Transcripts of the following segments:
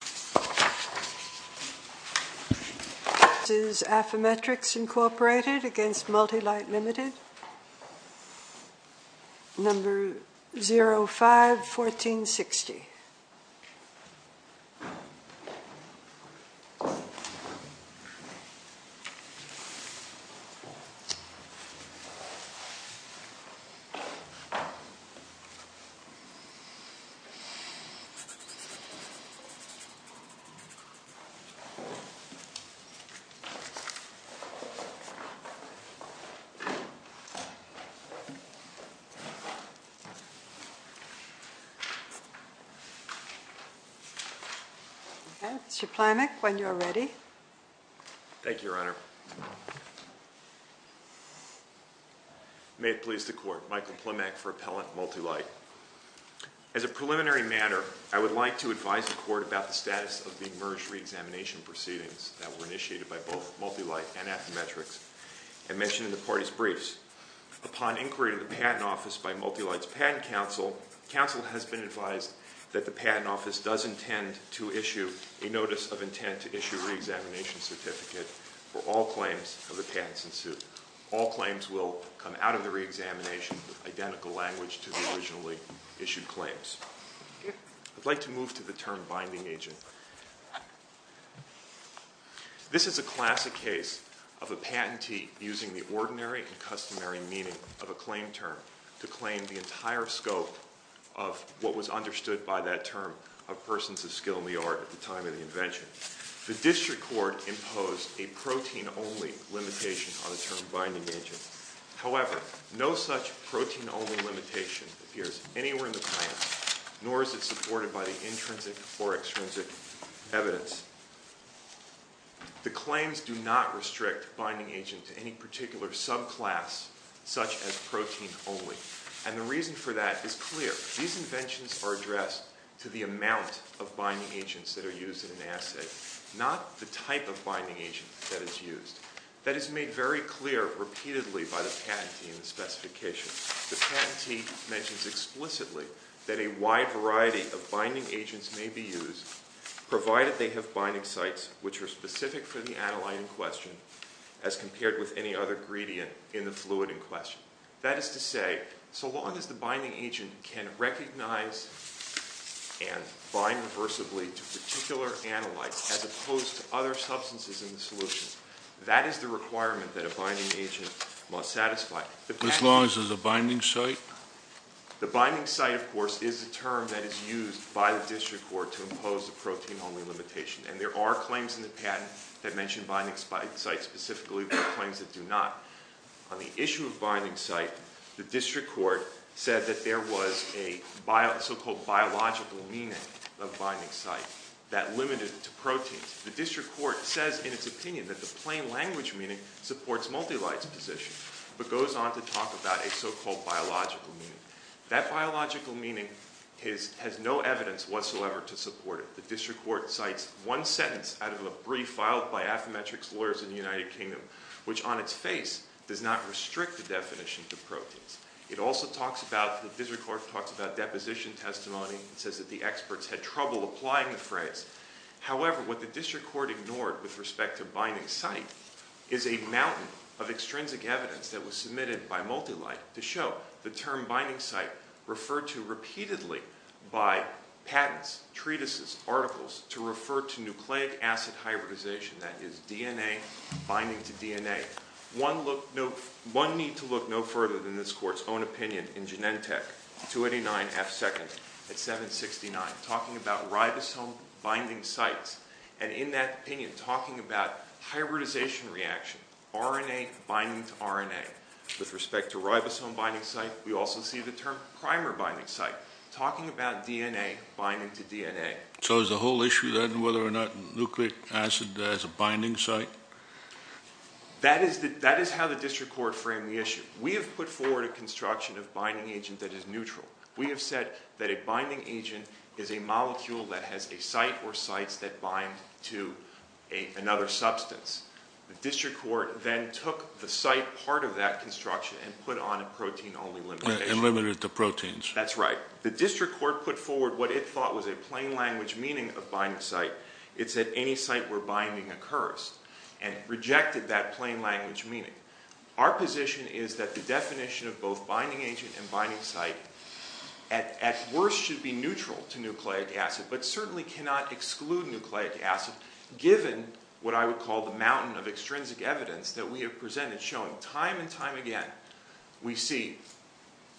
This is Affymetrix Inc v. Multilyte LTD, number 051460. Mr. Plamek, when you are ready. Thank you, Your Honor. May it please the Court, Michael Plamek for Appellant Multilite. As a preliminary matter, I would like to advise the Court about the status of the merged reexamination proceedings that were initiated by both Multilite and Affymetrix and mentioned in the party's briefs. Upon inquiry to the Patent Office by Multilite's Patent Council, the Council has been advised that the Patent Office does intend to issue a notice of intent to issue a reexamination certificate for all claims of the patents in suit. All claims will come out of the reexamination with identical language to the originally issued claims. I'd like to move to the term binding agent. This is a classic case of a patentee using the ordinary and customary meaning of a claim term to claim the entire scope of what was understood by that term of persons of skill in the art at the time of the invention. The District Court imposed a protein-only limitation on the term binding agent. However, no such protein-only limitation appears anywhere in the plan, nor is it supported by the intrinsic or extrinsic evidence. The claims do not restrict binding agent to any particular subclass, such as protein-only. And the reason for that is clear. These inventions are addressed to the amount of binding agents that are used in an assay, not the type of binding agent that is used. That is made very clear repeatedly by the patentee in the specification. The patentee mentions explicitly that a wide variety of binding agents may be used, provided they have binding sites which are specific for the aniline in question as compared with any other gradient in the fluid in question. That is to say, so long as the binding agent can recognize and bind reversibly to particular anilines as opposed to other substances in the solution, that is the requirement that a binding agent must satisfy. As long as there's a binding site? The binding site, of course, is a term that is used by the District Court to impose a protein-only limitation. And there are claims in the patent that mention binding sites specifically, but claims that do not. On the issue of binding site, the District Court said that there was a so-called biological meaning of binding site that limited it to proteins. The District Court says in its opinion that the plain language meaning supports Multilite's position, but goes on to talk about a so-called biological meaning. That biological meaning has no evidence whatsoever to support it. The District Court cites one sentence out of a brief filed by Affymetrix lawyers in the United Kingdom, which on its face does not restrict the definition to proteins. It also talks about, the District Court talks about deposition testimony and says that the experts had trouble applying the phrase. However, what the District Court ignored with respect to binding site is a mountain of extrinsic evidence that was submitted by Multilite to show the term binding site referred to repeatedly by patents, treatises, articles to refer to nucleic acid hybridization, that is DNA, binding to DNA. One need to look no further than this Court's own opinion in Genentech, 289 F2nd at 769, talking about ribosome binding sites and in that opinion talking about hybridization reaction, RNA binding to RNA. With respect to ribosome binding site, we also see the term primer binding site, talking about DNA binding to DNA. So is the whole issue then whether or not nucleic acid has a binding site? That is how the District Court framed the issue. We have put forward a construction of binding agent that is neutral. We have said that a binding agent is a molecule that has a site or sites that bind to another substance. The District Court then took the site part of that construction and put on a protein only limitation. It limited it to proteins. That's right. The District Court put forward what it thought was a plain language meaning of binding site. It said any site where binding occurs and rejected that plain language meaning. Our position is that the definition of both binding agent and binding site at worst should be neutral to nucleic acid but certainly cannot exclude nucleic acid given what I would call the mountain of extrinsic evidence that we have presented showing time and time again we see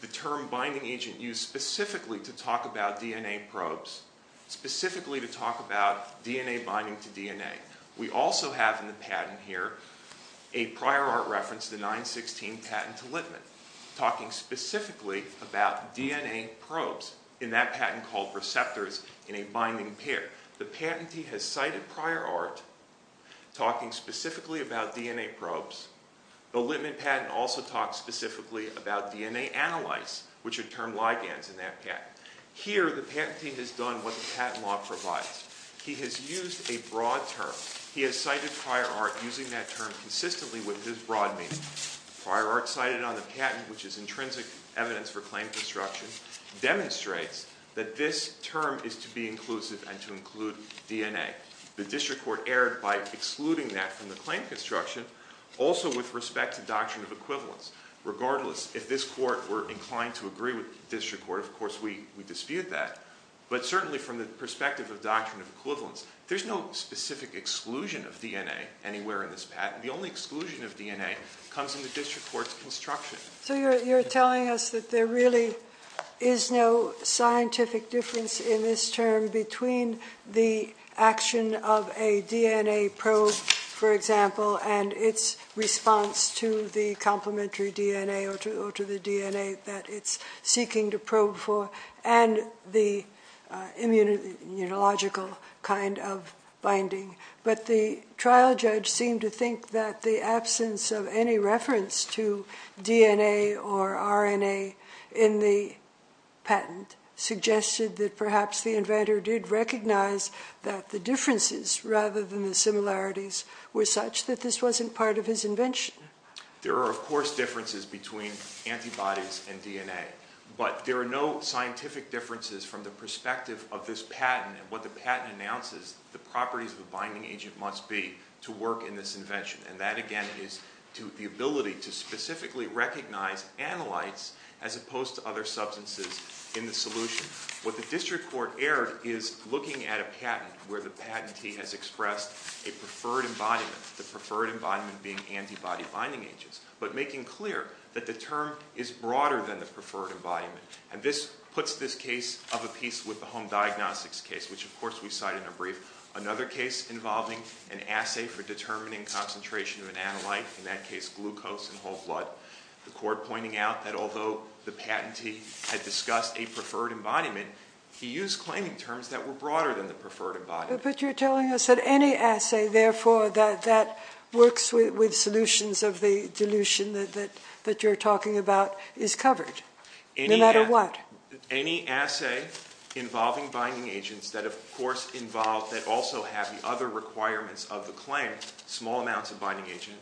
the term binding agent used specifically to talk about DNA probes, specifically to talk about DNA binding to DNA. We also have in the patent here a prior art reference, the 916 patent to Littman, talking specifically about DNA probes in that patent called receptors in a binding pair. The patentee has cited prior art talking specifically about DNA probes. The Littman patent also talks specifically about DNA analyze which are termed ligands in that patent. Here the patentee has done what the patent law provides. He has used a broad term. He has cited prior art using that term consistently with his broad meaning. Prior art cited on the patent which is intrinsic evidence for claim construction demonstrates that this term is to be inclusive and to include DNA. The District Court erred by excluding that from the claim construction also with respect to doctrine of equivalence. Regardless, if this court were inclined to agree with the District Court, of course we dispute that. But certainly from the perspective of doctrine of equivalence, there is no specific exclusion of DNA anywhere in this patent. The only exclusion of DNA comes from the District Court's construction. So you're telling us that there really is no scientific difference in this term between the action of a DNA probe, for example, and its response to the complementary DNA or to the DNA that it's seeking to probe for and the immunological kind of binding. But the trial judge seemed to think that the absence of any reference to DNA or RNA in the patent suggested that perhaps the inventor did recognize that the differences rather than the similarities were such that this wasn't part of his invention. There are, of course, differences between antibodies and DNA. But there are no scientific differences from the perspective of this patent and what the patent announces the properties of the binding agent must be to work in this invention. And that, again, is to the ability to specifically recognize analytes as opposed to other substances in the solution. What the District Court erred is looking at a patent where the patentee has expressed a preferred embodiment, the preferred embodiment being antibody binding agents, but making clear that the term is broader than the preferred embodiment. And this puts this case of a piece with the home diagnostics case, which, of course, we cite in a brief, another case involving an assay for determining concentration of an analyte, in that case glucose and whole blood, the court pointing out that although the patentee had discussed a preferred embodiment, he used claiming terms that were broader than the preferred embodiment. But you're telling us that any assay, therefore, that works with solutions of the dilution that you're talking about is covered, no matter what? Any assay involving binding agents that, of course, involve, that also have the other requirements of the claim, small amounts of binding agent,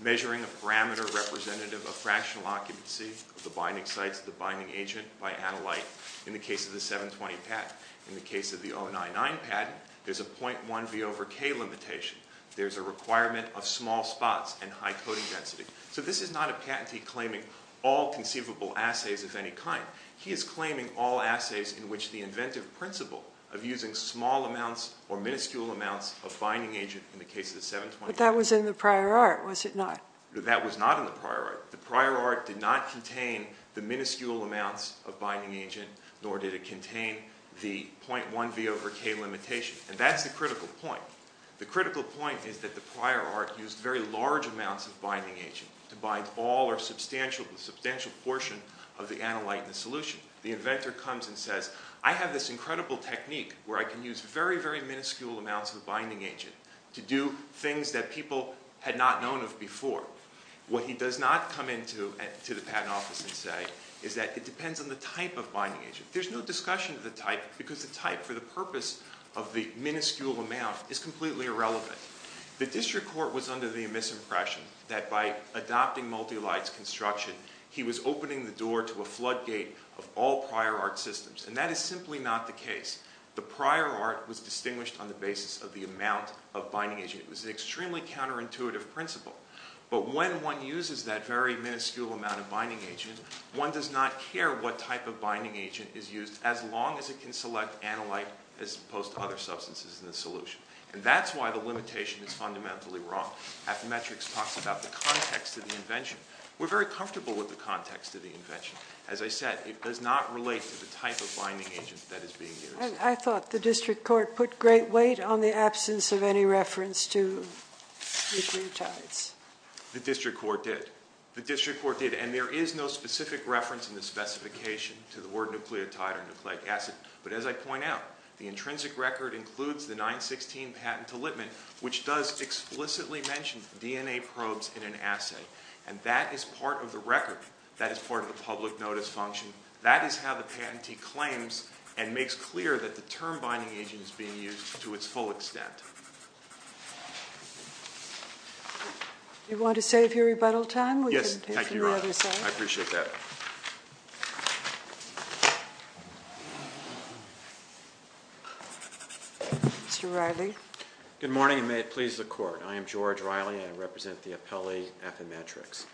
measuring a parameter representative of fractional occupancy of the binding sites of the binding agent by analyte, in the case of the 720 patent. In the case of the 099 patent, there's a 0.1 V over K limitation. There's a requirement of small spots and high coding density. So this is not a patentee claiming all conceivable assays of any kind. He is claiming all assays in which the inventive principle of using small amounts or minuscule amounts of binding agent in the case of the 720 patent. But that was in the prior art, was it not? That was not in the prior art. The prior art did not contain the minuscule amounts of binding agent, nor did it contain the 0.1 V over K limitation. And that's the critical point. The critical point is that the prior art used very large amounts of binding agent to bind all or substantial portion of the analyte in the solution. The inventor comes and says, I have this incredible technique where I can use very, very minuscule amounts of binding agent to do things that people had not known of before. What he does not come into the patent office and say is that it depends on the type of binding agent. There's no discussion of the type because the type for the purpose of the minuscule amount is completely irrelevant. The district court was under the misimpression that by adopting multi-lights construction, he was opening the door to a floodgate of all prior art systems. And that is simply not the case. The prior art was distinguished on the basis of the amount of binding agent. It was an extremely counterintuitive principle. But when one uses that very minuscule amount of binding agent, one does not care what type of binding agent is used as long as it can select analyte as opposed to other substances in the solution. And that's why the limitation is fundamentally wrong. Appometrics talks about the context of the invention. We're very comfortable with the context of the invention. As I said, it does not relate to the type of binding agent that is being used. I thought the district court put great weight on the absence of any reference to nucleotides. The district court did. The district court did. And there is no specific reference in the specification to the word nucleotide or nucleic acid. But as I point out, the intrinsic record includes the 916 patent allotment, which does explicitly mention DNA probes in an assay. And that is part of the record. That is part of the public notice function. That is how the patentee claims and makes clear that the term binding agent is being used to its full extent. Do you want to save your rebuttal time? Thank you, Your Honor. I appreciate that. Mr. Riley. Good morning, and may it please the court. I am George Riley. I represent the appellee Appometrics.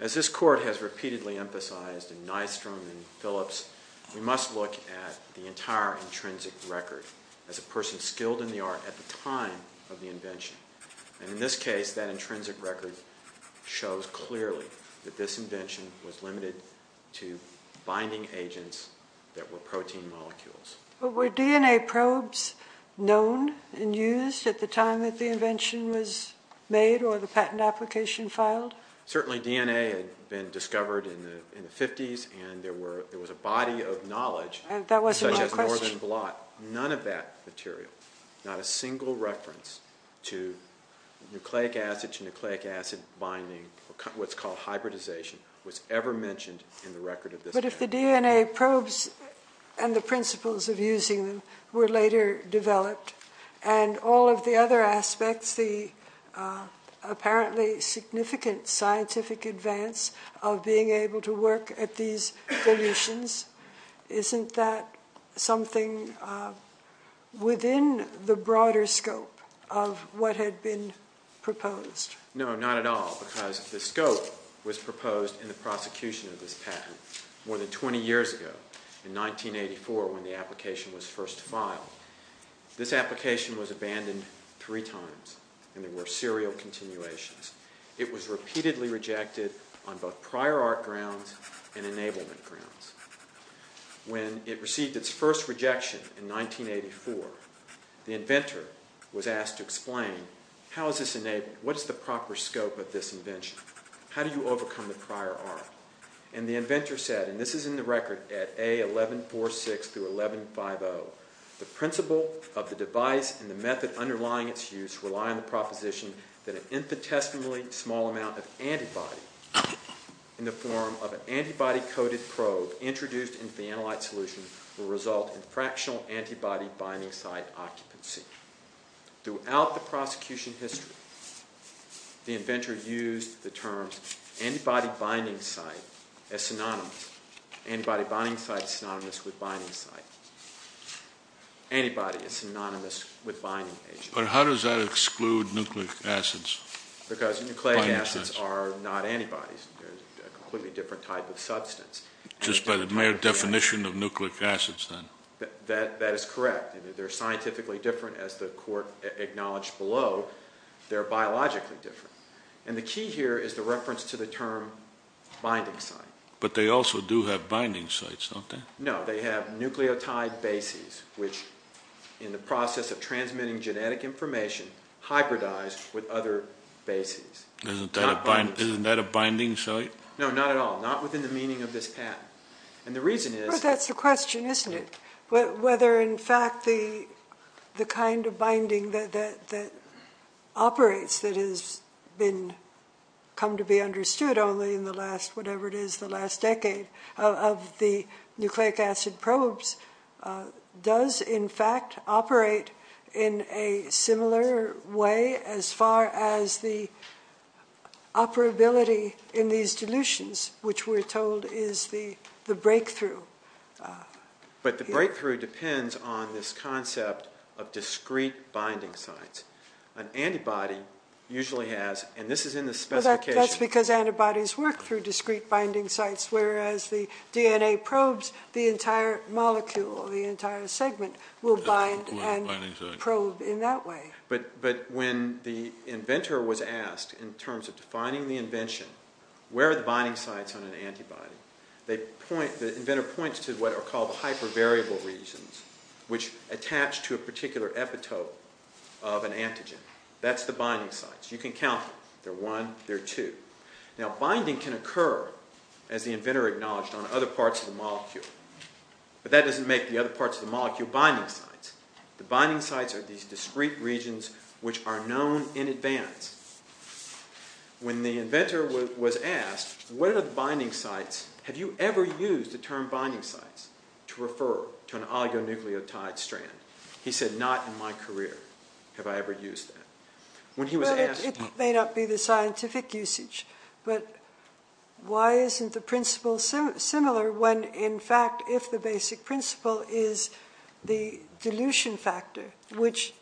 As this court has repeatedly emphasized in Nystrom and Phillips, we must look at the entire intrinsic record as a person skilled in the art at the time of the invention. And in this case, that intrinsic record shows clearly that this invention was limited to binding agents that were protein molecules. But were DNA probes known and used at the time that the invention was made or the patent application filed? Certainly DNA had been discovered in the 50s, and there was a body of knowledge, such as northern blot. None of that material, not a single reference to nucleic acid to nucleic acid binding, what is called hybridization, was ever mentioned in the record of this patent. But if the DNA probes and the principles of using them were later developed, and all of the other aspects, the apparently significant scientific advance of being able to work at these solutions, isn't that something within the broader scope of what had been proposed? No, not at all, because the scope was proposed in the prosecution of this patent more than 20 years ago, in 1984 when the application was first filed. This application was abandoned three times, and there were serial continuations. It was repeatedly rejected on both prior art grounds and enablement grounds. When it received its first rejection in 1984, the inventor was asked to explain, how is this enabled, what is the proper scope of this invention, how do you overcome the prior art? And the inventor said, and this is in the record at A1146 through 1150, the principle of the device and the method underlying its use rely on the proposition that an infinitesimally small amount of antibody in the form of an antibody-coated probe introduced into the analyte solution will result in fractional antibody binding site occupancy. Throughout the prosecution history, the inventor used the terms antibody binding site as synonymous. Antibody binding site is synonymous with binding site. Antibody is synonymous with binding agent. But how does that exclude nucleic acids? Because nucleic acids are not antibodies. They're a completely different type of substance. Just by the mere definition of nucleic acids, then? That is correct. They're scientifically different, as the court acknowledged below. They're biologically different. And the key here is the reference to the term binding site. But they also do have binding sites, don't they? No. They have nucleotide bases, which, in the process of transmitting genetic information, hybridize with other bases. Isn't that a binding site? No, not at all. Not within the meaning of this patent. And the reason is... But that's the question, isn't it? Whether, in fact, the kind of binding that operates, that has come to be understood only in the last whatever it is, the last decade, of the nucleic acid probes does, in fact, operate in a similar way as far as the operability in these dilutions, which we're told is the breakthrough. But the breakthrough depends on this concept of discrete binding sites. An antibody usually has, and this is in the specification... That's because antibodies work through discrete binding sites, whereas the DNA probes the entire molecule, the entire segment, will bind and probe in that way. But when the inventor was asked, in terms of defining the invention, where are the binding sites on an antibody, the inventor points to what are called the hypervariable regions, which attach to a particular epitope of an antigen. That's the binding sites. You can count them. There are one, there are two. Now, binding can occur, as the inventor acknowledged, on other parts of the molecule. But that doesn't make the other parts of the molecule binding sites. The binding sites are these discrete regions which are known in advance. When the inventor was asked, what are the binding sites, have you ever used the term binding sites to refer to an oligonucleotide strand, he said, not in my career have I ever used that. When he was asked... It may not be the scientific usage, but why isn't the principle similar when, in fact, if the basic principle is the dilution factor, which,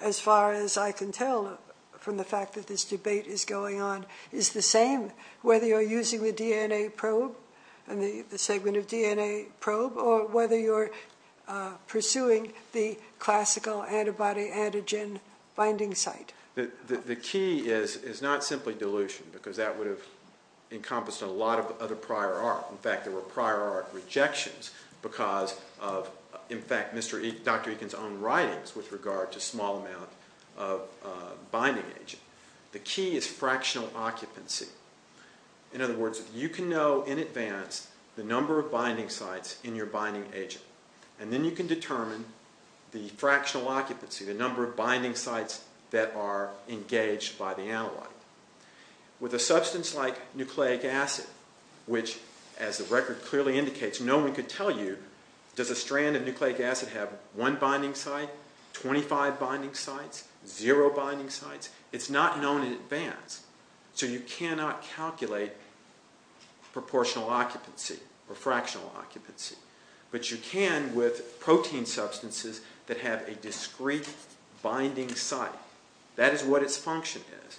as far as I can tell from the fact that this debate is going on, is the same whether you're using the DNA probe and the segment of DNA probe or whether you're pursuing the classical antibody-antigen binding site? The key is not simply dilution, because that would have encompassed a lot of other prior art. In fact, there were prior art rejections because of, in fact, Dr. Eakin's own writings with regard to small amount of binding agent. The key is fractional occupancy. In other words, you can know in advance the number of binding sites in your binding agent, and then you can determine the fractional occupancy, the number of binding sites that are engaged by the analyte. With a substance like nucleic acid, which, as the record clearly indicates, no one could tell you, does a strand of nucleic acid have one binding site, 25 binding sites, 0 binding sites? It's not known in advance. So you cannot calculate proportional occupancy or fractional occupancy. But you can with protein substances that have a discrete binding site. That is what its function is.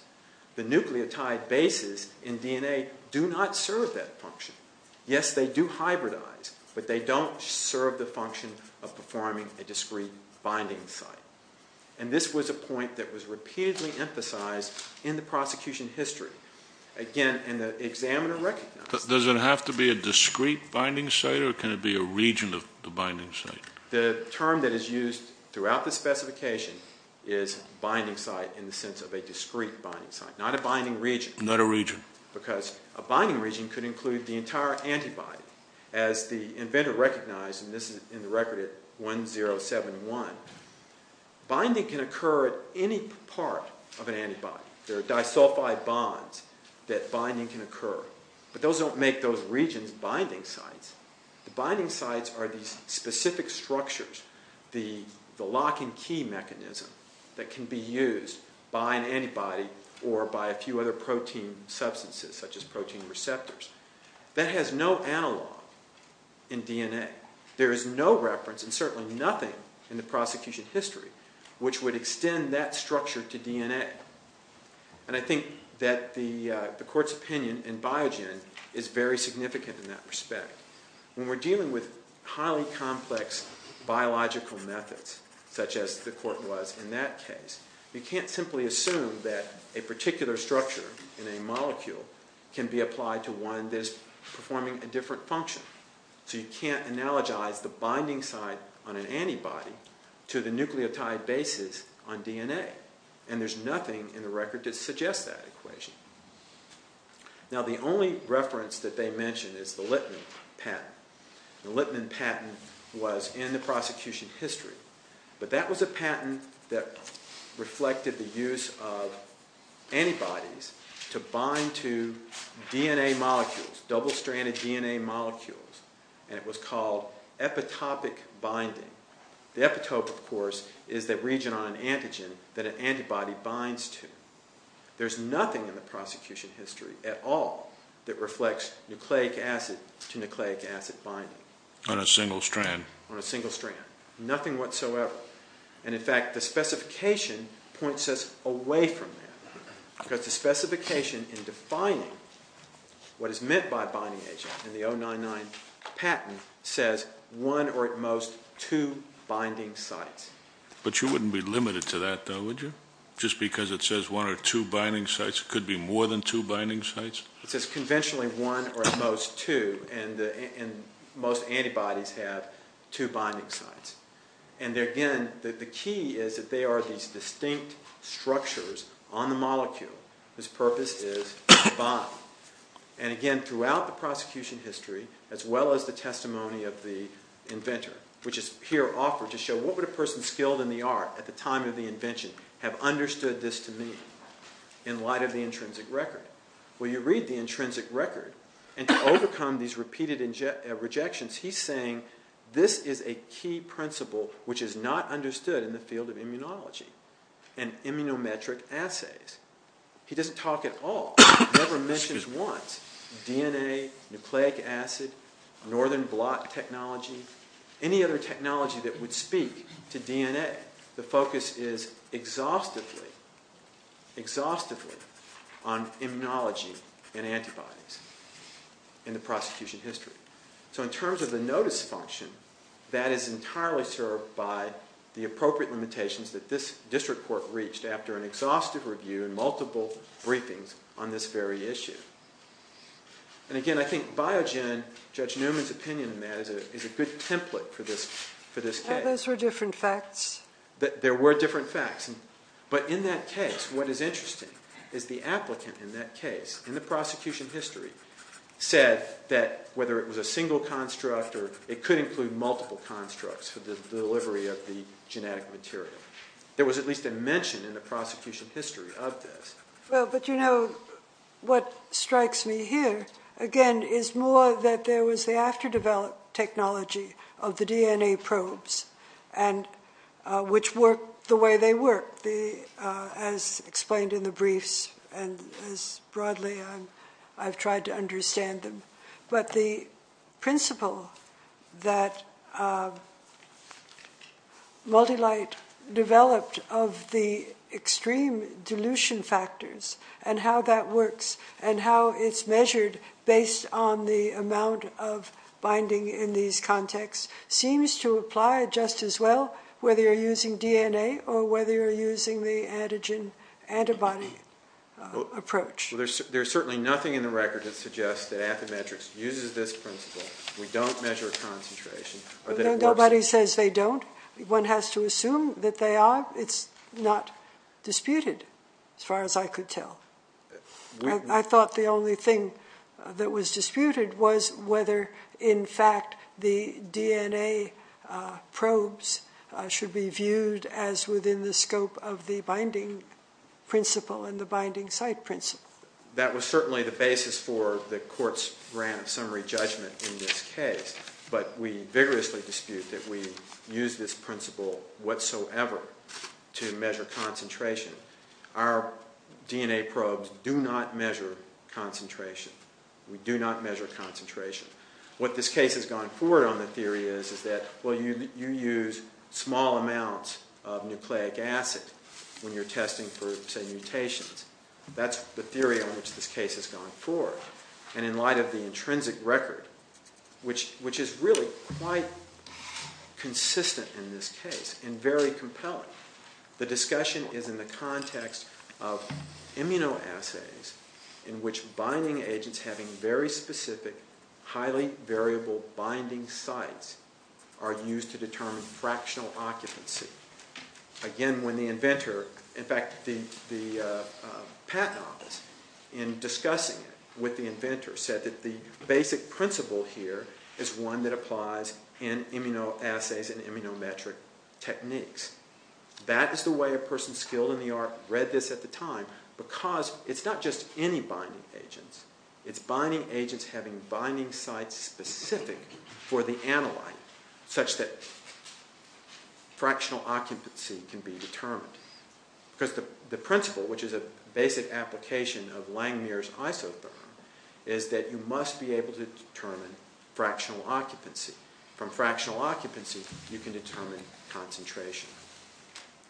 The nucleotide bases in DNA do not serve that function. Yes, they do hybridize, but they don't serve the function of performing a discrete binding site. And this was a point that was repeatedly emphasized in the prosecution history. Again, and the examiner recognized it. Does it have to be a discrete binding site, or can it be a region of the binding site? The term that is used throughout the specification is binding site in the sense of a discrete binding site, not a binding region. Not a region. Because a binding region could include the entire antibody. As the inventor recognized, and this is in the record at 1071, binding can occur at any part of an antibody. There are disulfide bonds that binding can occur. But those don't make those regions binding sites. The binding sites are these specific structures, the lock and key mechanism, that can be used by an antibody or by a few other protein substances, such as protein receptors. That has no analog in DNA. There is no reference, and certainly nothing in the prosecution history, which would extend that structure to DNA. And I think that the Court's opinion in Biogen is very significant in that respect. When we're dealing with highly complex biological methods, such as the Court was in that case, you can't simply assume that a particular structure in a molecule can be applied to one that is performing a different function. So you can't analogize the binding site on an antibody to the nucleotide bases on DNA. And there's nothing in the record that suggests that equation. Now the only reference that they mention is the Littman patent. The Littman patent was in the prosecution history. But that was a patent that reflected the use of antibodies to bind to DNA molecules, double-stranded DNA molecules. And it was called epitopic binding. The epitope, of course, is the region on an antigen that an antibody binds to. There's nothing in the prosecution history at all that reflects nucleic acid-to-nucleic acid binding. On a single strand. On a single strand. Nothing whatsoever. And, in fact, the specification points us away from that. Because the specification in defining what is meant by a binding agent in the 099 patent says one or at most two binding sites. But you wouldn't be limited to that, though, would you? Just because it says one or two binding sites? It could be more than two binding sites? It says conventionally one or at most two. And most antibodies have two binding sites. And, again, the key is that they are these distinct structures on the molecule whose purpose is to bind. And, again, throughout the prosecution history, as well as the testimony of the inventor, which is here offered to show what would a person skilled in the art at the time of the invention have understood this to mean, in light of the intrinsic record? Well, you read the intrinsic record, and to overcome these repeated rejections, he's saying this is a key principle which is not understood in the field of immunology and immunometric assays. He doesn't talk at all. He never mentions once DNA, nucleic acid, northern blot technology, any other technology that would speak to DNA. The focus is exhaustively, exhaustively on immunology and antibodies in the prosecution history. So in terms of the notice function, that is entirely served by the appropriate limitations that this district court reached after an exhaustive review and multiple briefings on this very issue. And, again, I think Biogen, Judge Newman's opinion on that, is a good template for this case. Well, those were different facts. There were different facts. But in that case, what is interesting is the applicant in that case, in the prosecution history, said that whether it was a single construct or it could include multiple constructs for the delivery of the genetic material. There was at least a mention in the prosecution history of this. Well, but, you know, what strikes me here, again, is more that there was the after-developed technology of the DNA probes, which work the way they work, as explained in the briefs, and as broadly I've tried to understand them. But the principle that Multilite developed of the extreme dilution factors and how that works and how it's measured based on the amount of binding in these contexts seems to apply just as well, whether you're using DNA or whether you're using the antigen-antibody approach. Well, there's certainly nothing in the record that suggests that Affymetrix uses this principle. We don't measure concentration. Nobody says they don't. One has to assume that they are. It's not disputed, as far as I could tell. I thought the only thing that was disputed was whether, in fact, the DNA probes should be viewed as within the scope of the binding principle and the binding site principle. That was certainly the basis for the court's grand summary judgment in this case. But we vigorously dispute that we use this principle whatsoever to measure concentration. Our DNA probes do not measure concentration. We do not measure concentration. What this case has gone forward on the theory is that, well, you use small amounts of nucleic acid when you're testing for, say, mutations. That's the theory on which this case has gone forward. And in light of the intrinsic record, which is really quite consistent in this case and very compelling, the discussion is in the context of immunoassays in which binding agents having very specific, highly variable binding sites are used to determine fractional occupancy. Again, when the inventor, in fact, the patent office, in discussing it with the inventor, said that the basic principle here is one that applies in immunoassays and immunometric techniques. That is the way a person skilled in the art read this at the time because it's not just any binding agents. It's binding agents having binding sites specific for the analyte such that fractional occupancy can be determined. Because the principle, which is a basic application of Langmuir's isotherm, is that you must be able to determine fractional occupancy. From fractional occupancy, you can determine concentration.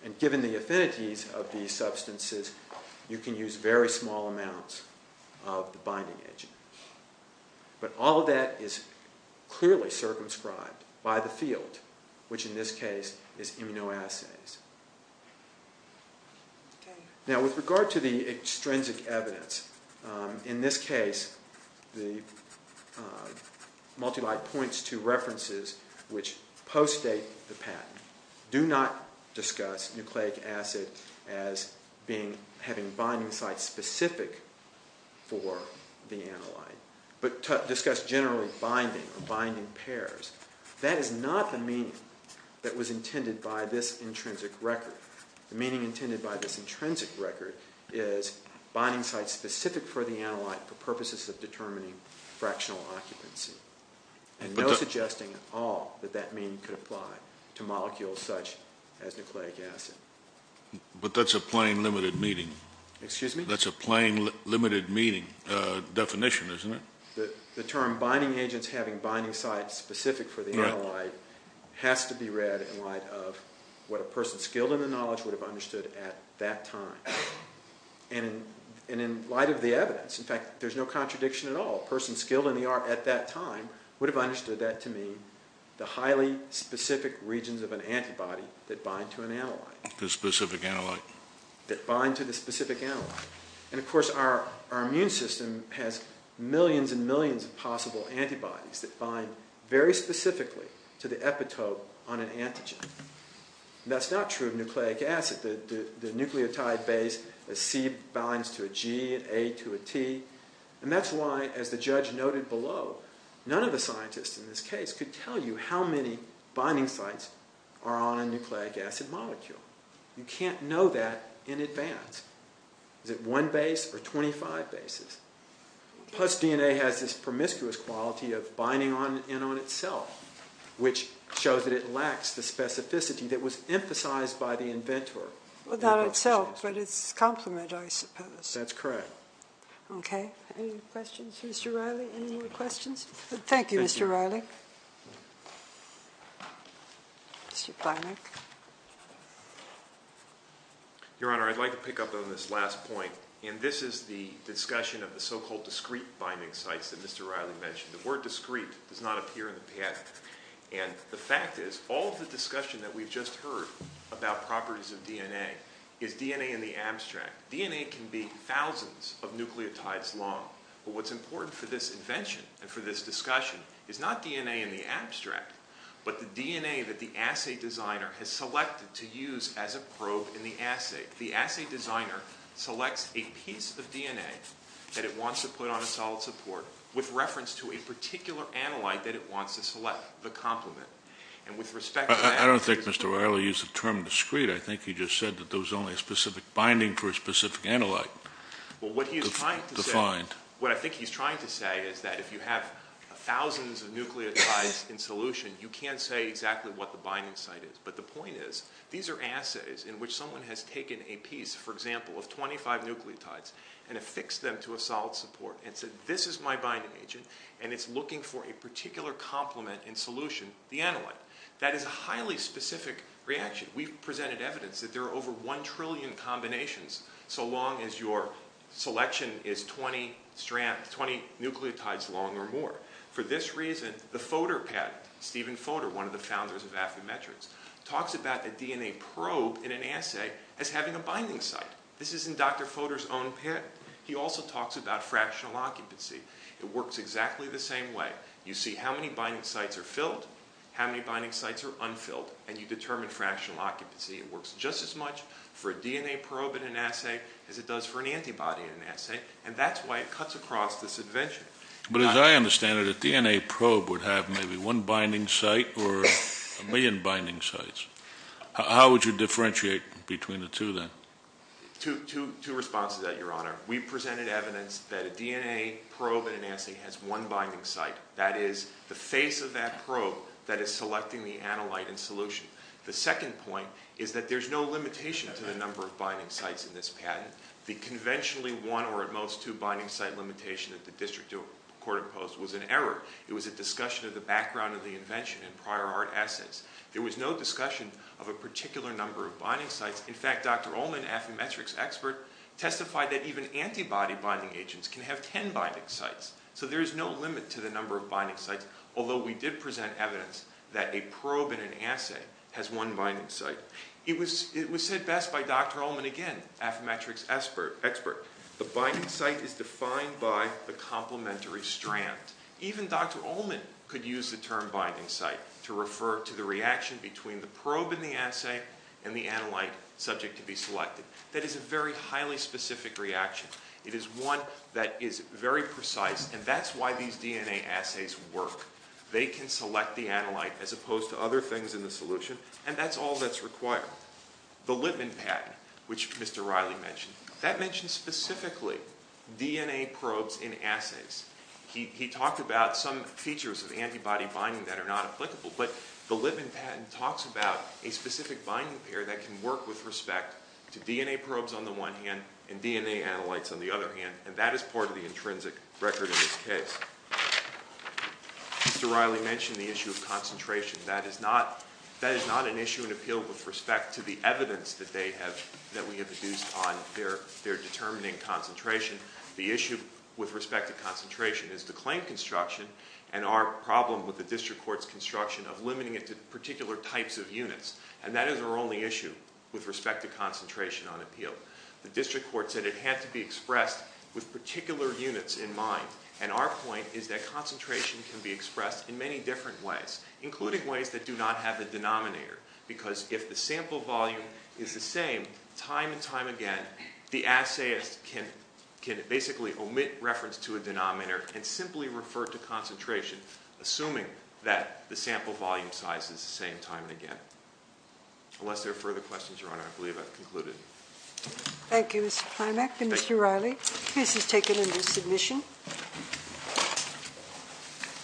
And given the affinities of these substances, you can use very small amounts of the binding agent. But all of that is clearly circumscribed by the field, which in this case is immunoassays. Now, with regard to the extrinsic evidence, in this case, the multilite points to references which postdate the patent. Do not discuss nucleic acid as having binding sites specific for the analyte. But discuss generally binding or binding pairs. That is not the meaning that was intended by this intrinsic record. The meaning intended by this intrinsic record is binding sites specific for the analyte for purposes of determining fractional occupancy. And no suggesting at all that that meaning could apply to molecules such as nucleic acid. But that's a plain limited meaning. Excuse me? That's a plain limited meaning definition, isn't it? The term binding agents having binding sites specific for the analyte has to be read in light of what a person skilled in the knowledge would have understood at that time. And in light of the evidence, in fact, there's no contradiction at all. A person skilled in the art at that time would have understood that to mean the highly specific regions of an antibody that bind to an analyte. The specific analyte. That bind to the specific analyte. And of course, our immune system has millions and millions of possible antibodies that bind very specifically to the epitope on an antigen. That's not true of nucleic acid. The nucleotide base, a C, binds to a G, an A to a T. And that's why, as the judge noted below, none of the scientists in this case could tell you how many binding sites are on a nucleic acid molecule. You can't know that in advance. Is it one base or 25 bases? Plus, DNA has this promiscuous quality of binding on and on itself, which shows that it lacks the specificity that was emphasized by the inventor. Well, not itself, but its complement, I suppose. That's correct. Okay. Any questions for Mr. Riley? Any more questions? Thank you, Mr. Riley. Thank you. Your Honor, I'd like to pick up on this last point. And this is the discussion of the so-called discrete binding sites that Mr. Riley mentioned. The word discrete does not appear in the patent. And the fact is, all of the discussion that we've just heard about properties of DNA is DNA in the abstract. DNA can be thousands of nucleotides long. But what's important for this invention and for this discussion is not DNA in the abstract, but the DNA that the assay designer has selected to use as a probe in the assay. The assay designer selects a piece of DNA that it wants to put on a solid support with reference to a particular analyte that it wants to select, the complement. And with respect to that – I don't think Mr. Riley used the term discrete. I think he just said that there was only a specific binding for a specific analyte. Well, what he is trying to say – Defined. What I think he's trying to say is that if you have thousands of nucleotides in solution, you can't say exactly what the binding site is. But the point is, these are assays in which someone has taken a piece, for example, of 25 nucleotides and affixed them to a solid support and said, this is my binding agent, and it's looking for a particular complement in solution, the analyte. That is a highly specific reaction. We've presented evidence that there are over one trillion combinations so long as your selection is 20 nucleotides long or more. For this reason, the Fodor patent, Stephen Fodor, one of the founders of Affymetrix, talks about a DNA probe in an assay as having a binding site. This is in Dr. Fodor's own patent. He also talks about fractional occupancy. It works exactly the same way. You see how many binding sites are filled, how many binding sites are unfilled, and you determine fractional occupancy. It works just as much for a DNA probe in an assay as it does for an antibody in an assay, and that's why it cuts across this invention. But as I understand it, a DNA probe would have maybe one binding site or a million binding sites. How would you differentiate between the two then? Two responses to that, Your Honor. We've presented evidence that a DNA probe in an assay has one binding site. That is the face of that probe that is selecting the analyte in solution. The second point is that there's no limitation to the number of binding sites in this patent. The conventionally one or at most two binding site limitation that the district court imposed was an error. It was a discussion of the background of the invention and prior art assets. There was no discussion of a particular number of binding sites. In fact, Dr. Ullman, Affymetrix expert, testified that even antibody binding agents can have 10 binding sites. So there is no limit to the number of binding sites, although we did present evidence that a probe in an assay has one binding site. It was said best by Dr. Ullman again, Affymetrix expert. The binding site is defined by the complementary strand. Even Dr. Ullman could use the term binding site to refer to the reaction between the probe in the assay and the analyte subject to be selected. That is a very highly specific reaction. It is one that is very precise, and that's why these DNA assays work. They can select the analyte as opposed to other things in the solution, and that's all that's required. The Lipman patent, which Mr. Riley mentioned, that mentions specifically DNA probes in assays. He talked about some features of antibody binding that are not applicable, but the Lipman patent talks about a specific binding pair that can work with respect to DNA probes on the one hand and DNA analytes on the other hand, and that is part of the intrinsic record in this case. Mr. Riley mentioned the issue of concentration. That is not an issue in appeal with respect to the evidence that we have produced on their determining concentration. The issue with respect to concentration is the claim construction and our problem with the district court's construction of limiting it to particular types of units, and that is our only issue with respect to concentration on appeal. The district court said it had to be expressed with particular units in mind, and our point is that concentration can be expressed in many different ways, including ways that do not have a denominator, because if the sample volume is the same time and time again, the assayist can basically omit reference to a denominator and simply refer to concentration, assuming that the sample volume size is the same time and again. Unless there are further questions, Your Honor, I believe I've concluded. Thank you, Mr. Climack. Thank you, Mr. Riley. This has taken into submission.